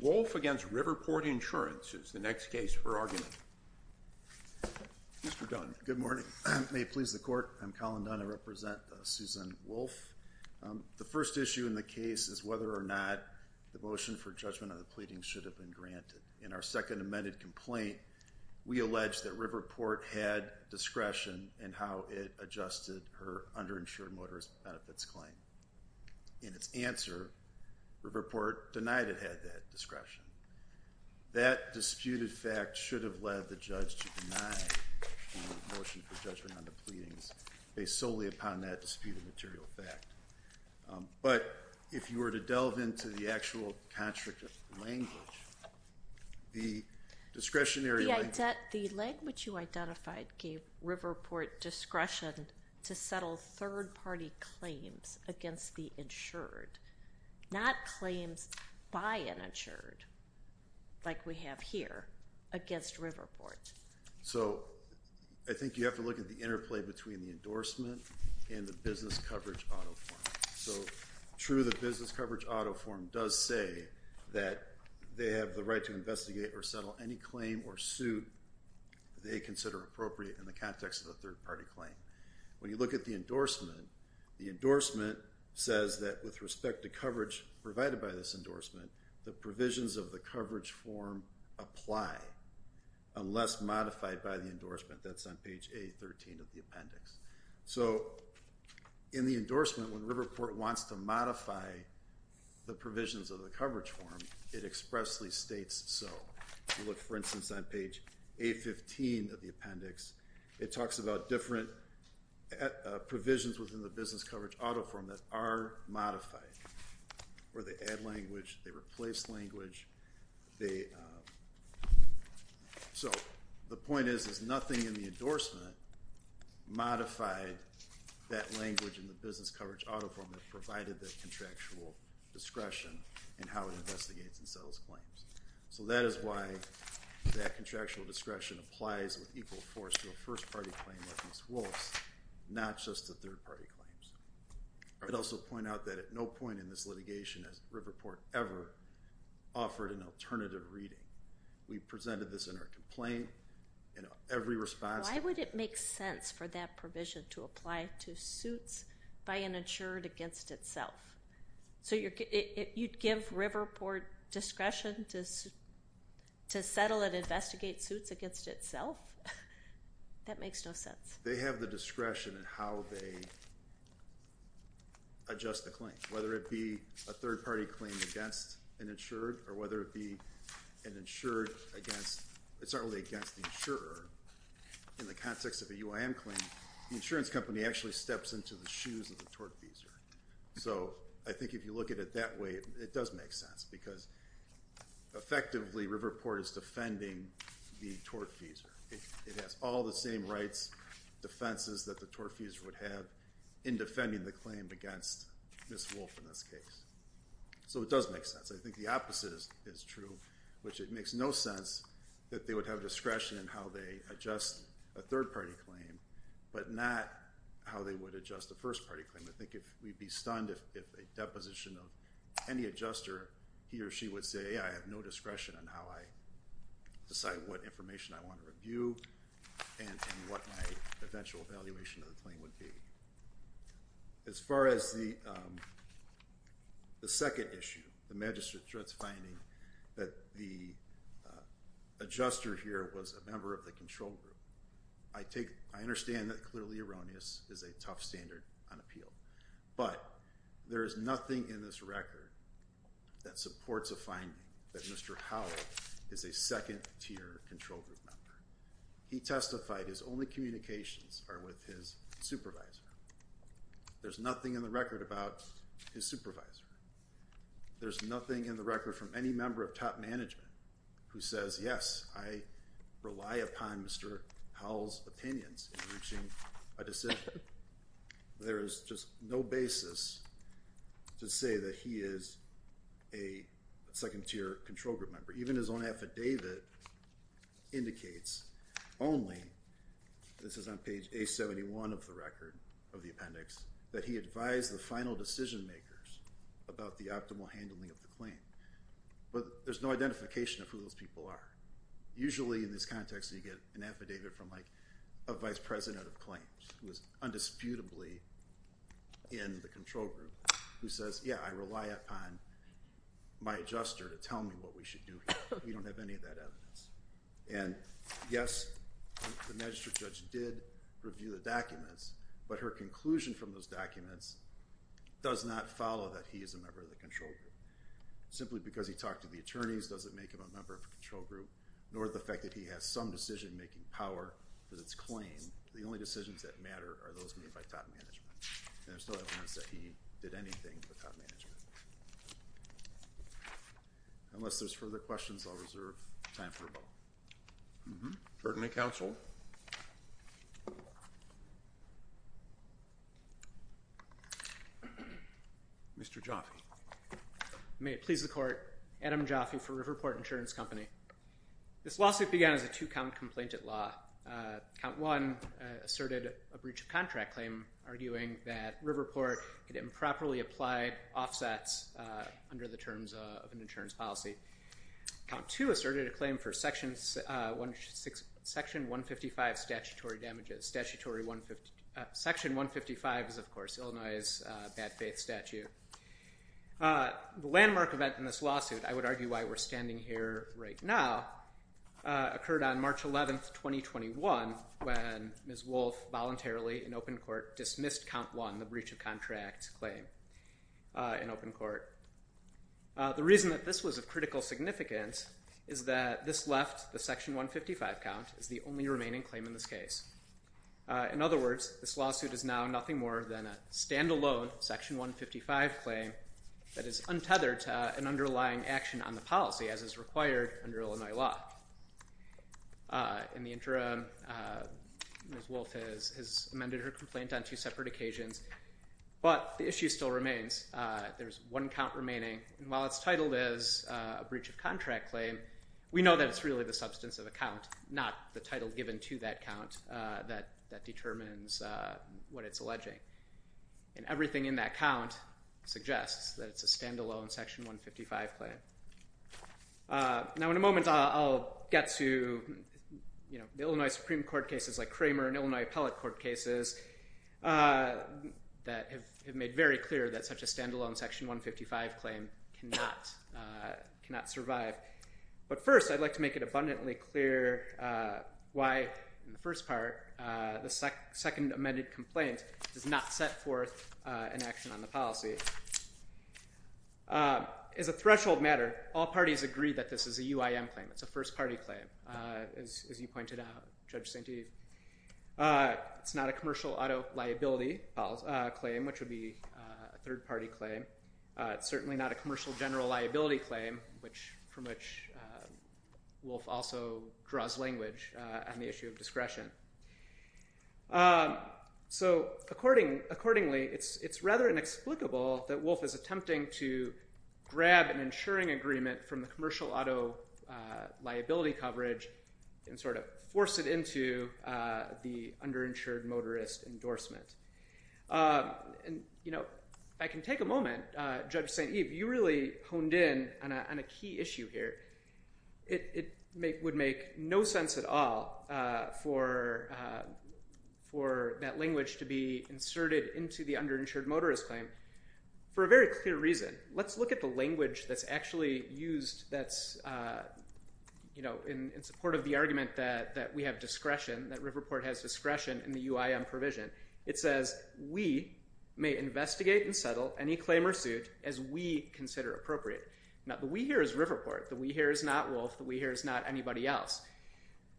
Wolf v. Riverport Insurance is the next case for argument. Good morning. May it please the court, I'm Colin Dunn. I represent Susan Wolf. The first issue in the case is whether or not the motion for judgment of the pleading should have been granted. In our second amended complaint, we alleged that Riverport had discretion in how it adjusted her underinsured motorist benefits claim. In its answer, Riverport denied it had that discretion. That disputed fact should have led the judge to deny the motion for judgment on the pleadings based solely upon that disputed material fact. But if you were to delve into the actual contradictive language, the discretionary... The language you identified gave Riverport discretion to settle third-party claims against the insured, not claims by an insured like we have here against Riverport. So I think you have to look at the interplay between the endorsement and the business coverage auto form. So true, the business coverage auto form does say that they have the right to investigate or settle any claim or suit they consider appropriate in the context of a third-party claim. When you look at the endorsement, the endorsement says that with respect to coverage provided by this endorsement, the provisions of the coverage form apply unless modified by the endorsement. That's on page A13 of the appendix. So in the endorsement when Riverport wants to modify the provisions of the coverage form, it expressly states so. If you look for instance on page A15 of the appendix, it talks about different provisions within the business coverage auto form that are modified. Where they add language, they replace language, they... So the point is, is nothing in the endorsement modified that language in the business coverage auto form that provided that contractual discretion in how it investigates and settles claims. So that is why that contractual discretion applies with equal force to a first-party claim like Ms. Wolfe's, not just the third-party claims. I'd also point out that at no point in this litigation has Riverport ever offered an alternative reading. We presented this in our complaint and every response... Why would it make sense for that provision to apply to suits by an insured against itself? So you'd give Riverport discretion to settle and investigate suits against itself? That makes no sense. They have the discretion in how they adjust the claim. Whether it be a third-party claim against an insured or whether it be an insured against... It's not only against the insurer. In the context of a UIM claim, the insurance company actually steps into the shoes of the tortfeasor. So I think if you look at it that way, it does make sense because effectively Riverport is defending the tortfeasor. It has all the same rights, defenses that the tortfeasor would have in defending the claim against Ms. Wolfe in this case. So it does make sense. I think the opposite is true, which it makes no sense that they would have discretion in how they adjust a third-party claim, but not how they would adjust the first-party claim. I think we'd be stunned if a deposition of any adjuster, he or she would say, I have no discretion on how I decide what information I want to review and what my eventual evaluation of the claim would be. As far as the second issue, the magistrate's finding that the adjuster here was a member of the control group. I understand that clearly erroneous is a tough standard on appeal, but there is nothing in this record that supports a finding that Mr. Howell is a second-tier control group member. He testified his only communications are with his supervisor. There's nothing in the record about his supervisor. There's nothing in the record from any member of top management who says, yes, I rely upon Mr. Howell's opinions in reaching a decision. There is just no basis to say that he is a second-tier control group member. Even his own affidavit indicates only, this is on page A71 of the record, of the appendix, that he advised the final decision-makers about the optimal handling of the claim. But there's no identification of who those people are. Usually in this context you get an affidavit from a Vice President of Claims who is undisputably in the control group who says, yeah, I rely upon my adjuster to tell me what we should do here. We don't have any of that evidence. Yes, the magistrate judge did review the documents, but her conclusion from those documents does not follow that he is a member of the control group. Simply because he talked to the attorneys doesn't make him a member of the control group, nor the fact that he has some decision-making power with its claim. The only decisions that matter are those made by top management. There's no evidence that he did anything with top management. Unless there's further questions, I'll reserve time for a vote. Certainly, counsel. Mr. Jaffe. May it please the court, Adam Jaffe for Riverport Insurance Company. This lawsuit began as a two-count complaint at law. Count one asserted a breach of contract claim, arguing that Riverport had improperly applied offsets under the terms of an insurance policy. Count two asserted a claim for section 155 statutory damages. Section 155 is, of course, Illinois's bad faith statute. The landmark event in this lawsuit, I would argue why we're standing here right now, occurred on March 11th, 2021, when Ms. Wolfe voluntarily, in open court, dismissed count one, the breach of contract claim in open court. The reason that this was of critical significance is that this left the section 155 count as the only remaining claim in this case. In other words, this lawsuit is now nothing more than a standalone section 155 claim that is untethered to an underlying action on the policy, as is required under Illinois law. In the interim, Ms. Wolfe has amended her complaint on two separate occasions, but the issue still remains. There's one count remaining, and while it's titled as a breach of contract claim, we know that it's really the substance of a count, not the title given to that count that determines what it's alleging. And everything in that count suggests that it's a standalone section 155 claim. Now, in a moment, I'll get to, you know, the Illinois Supreme Court cases like Kramer and Illinois Appellate Court cases that have made very clear that such a standalone section 155 claim cannot survive. But first, I'd like to make it abundantly clear why, in the first part, the second amended complaint does not set forth an action on the policy. As a threshold matter, all parties agree that this is a UIM claim. It's a first-party claim, as you pointed out, Judge Steeve. It's not a commercial auto liability claim, which would be a third-party claim. It's certainly not a commercial general liability claim, from which Wolfe also draws language on the discretion. So, accordingly, it's rather inexplicable that Wolfe is attempting to grab an insuring agreement from the commercial auto liability coverage and sort of force it into the underinsured motorist endorsement. And, you know, if I can take a moment, Judge Steeve, you really honed in on a key issue here. It would make no sense at all for that language to be inserted into the underinsured motorist claim for a very clear reason. Let's look at the language that's actually used that's, you know, in support of the argument that we have discretion, that Riverport has discretion in the UIM provision. It says, we may investigate and settle any claim or suit as we consider appropriate. Now, the we here is Riverport. The we here is not Wolfe. The we here is not anybody else.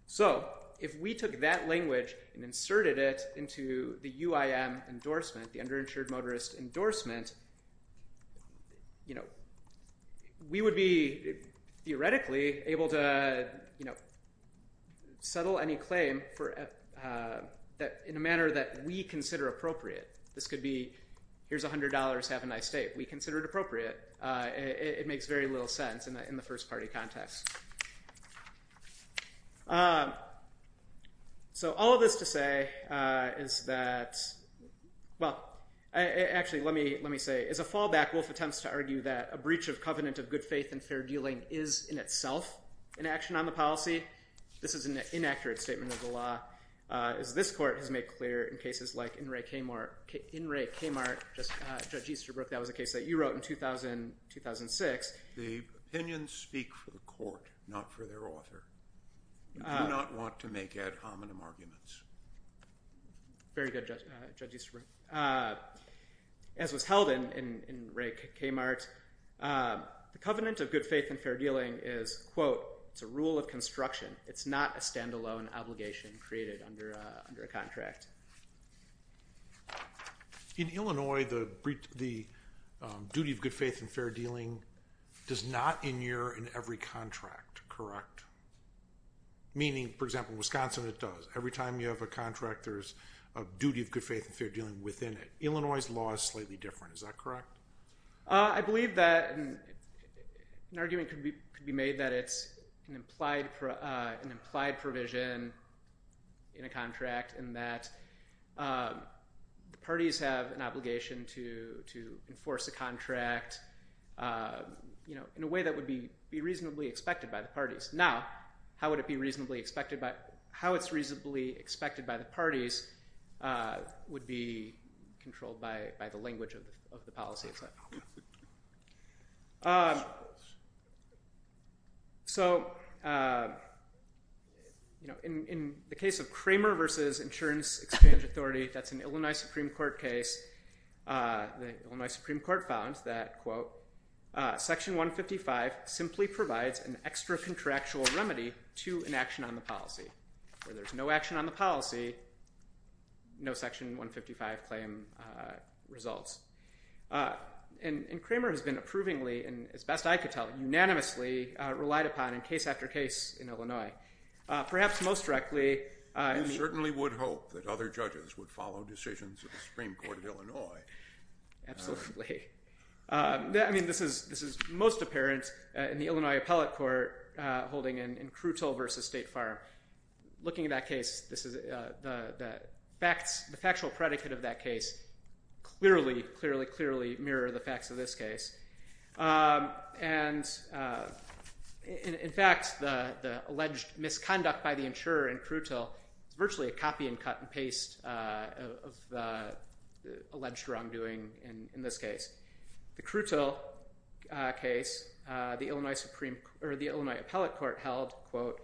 So, if we took that language and inserted it into the UIM endorsement, the underinsured motorist endorsement, you know, we would be theoretically able to, you know, settle any claim in a manner that we consider appropriate. This could be, here's a hundred dollars, have a nice date. We consider it appropriate. It makes very little sense in the first-party context. So, all of this to say is that, well, actually, let me say, as a fallback, Wolfe attempts to argue that a breach of covenant of good faith and fair dealing is, in itself, an action on the policy. This is an inaccurate statement of the law, as this court has made clear in cases like in Ray Kmart, Judge Easterbrook, that was a case that you wrote in 2006. The opinions speak for the court, not for their author. We do not want to make ad hominem arguments. Very good, Judge Easterbrook. As was held in Ray Kmart, the covenant of good faith and fair dealing is, quote, it's a rule of construction. It's not a standalone obligation created under a contract. In Illinois, the duty of good faith and fair dealing does not in here in every contract, correct? Meaning, for example, Wisconsin, it does. Every time you have a contract, there's a duty of good faith and fair dealing within it. Illinois's law is slightly different, is that correct? I believe that an argument could be made that it's an implied provision in a contract and that the parties have an obligation to enforce a contract, you know, in a way that would be reasonably expected by the parties. Now, how would it be reasonably expected by, how it's reasonably expected by the parties would be controlled by the language of the policy. So, you know, in the case of Kramer versus Insurance Exchange Authority, that's an Illinois Supreme Court case. The Illinois Supreme Court found that, quote, section 155 simply provides an extra contractual remedy to an action on the policy. Where there's no action on the policy, no section 155 claim results. And Kramer has been approvingly, and as best I could tell, unanimously relied upon in case after case in Illinois. Perhaps most directly... You certainly would hope that other judges would follow decisions of the Supreme Court of Illinois. Absolutely. I mean, this is this is most apparent in the Illinois Appellate Court holding in Krutal versus State Farm. Looking at that case, this is the facts, the factual predicate of that case clearly, clearly, clearly mirror the facts of this case. And, in fact, the alleged misconduct by the insurer in Krutal, virtually a copy and cut and paste of the alleged wrongdoing in this case. The Krutal case, the Illinois Appellate Court held, quote,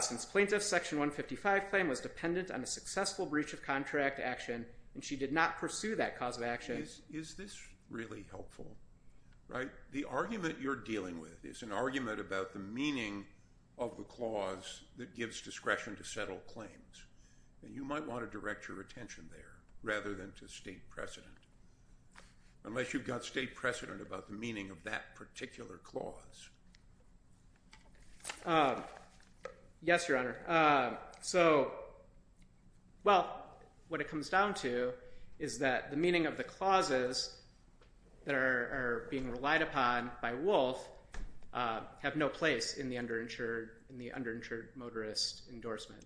since plaintiff section 155 claim was dependent on a successful breach of contract action, and she did not pursue that cause of action. Is this really helpful? Right? The argument you're dealing with is an argument about the meaning of the clause that gives discretion to settle claims. And you might want to direct your attention there, rather than to state precedent. Unless you've got state precedent about the meaning of that particular clause. Yes, Your Honor. So, well, what it comes down to is that the meaning of the clauses that are being relied upon by Wolfe have no place in the underinsured, in the underinsured motorist endorsement.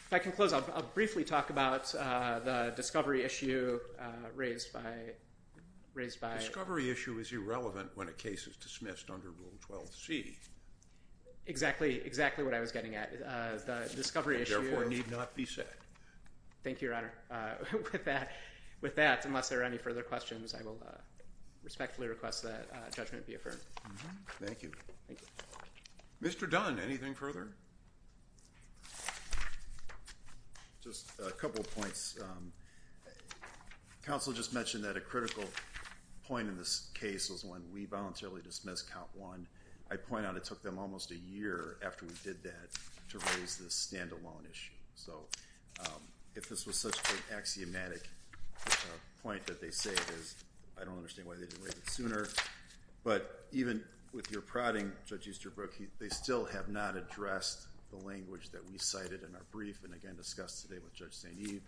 If I can close, I'll briefly talk about the discovery issue raised by, raised by... Discovery issue is irrelevant when a case is dismissed under Rule 12c. Exactly, exactly what I was getting at. The discovery issue... Therefore need not be said. Thank you, Your Honor. With that, with that, unless there are any further questions, I will respectfully request that judgment be affirmed. Thank you. Mr. Dunn, anything further? Just a couple of points. Counsel just mentioned that a critical point in this case was when we voluntarily dismissed Count 1. I point out it took them almost a year after we did that to raise this standalone issue. So, if this was such an axiomatic point that they say it is, I don't understand why they didn't raise it sooner, but even with your prodding, Judge Easterbrook, they still have not addressed the language that we cited in our brief and again discussed today with Judge St. Eve,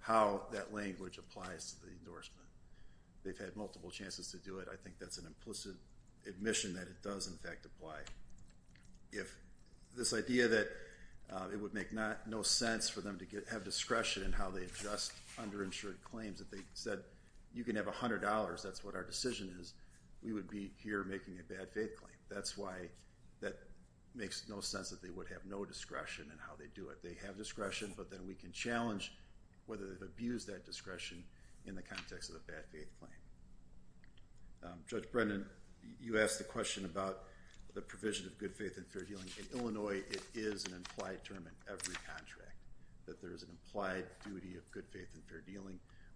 how that language applies to the endorsement. They've had multiple chances to do it. I think that's an implicit admission that it does in fact apply. If this idea that it would make no sense for them to have discretion in how they adjust underinsured claims, that they said you can have a hundred dollars, that's what our decision is, we would be here making a bad faith claim. That's why that makes no sense that they would have no discretion in how they do it. They have discretion, but then we can challenge whether they've abused that discretion in the context of the bad faith claim. Judge Brendan, you asked the question about the provision of good faith in fair dealing.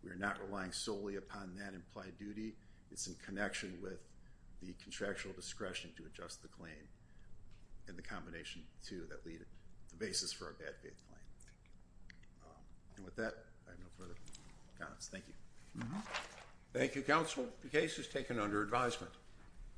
We are not relying solely upon that implied duty. It's in connection with the contractual discretion to adjust the claim and the combination to that lead basis for a bad faith claim. And with that, I have no further comments. Thank you. Thank you, counsel. The case is taken under advisement.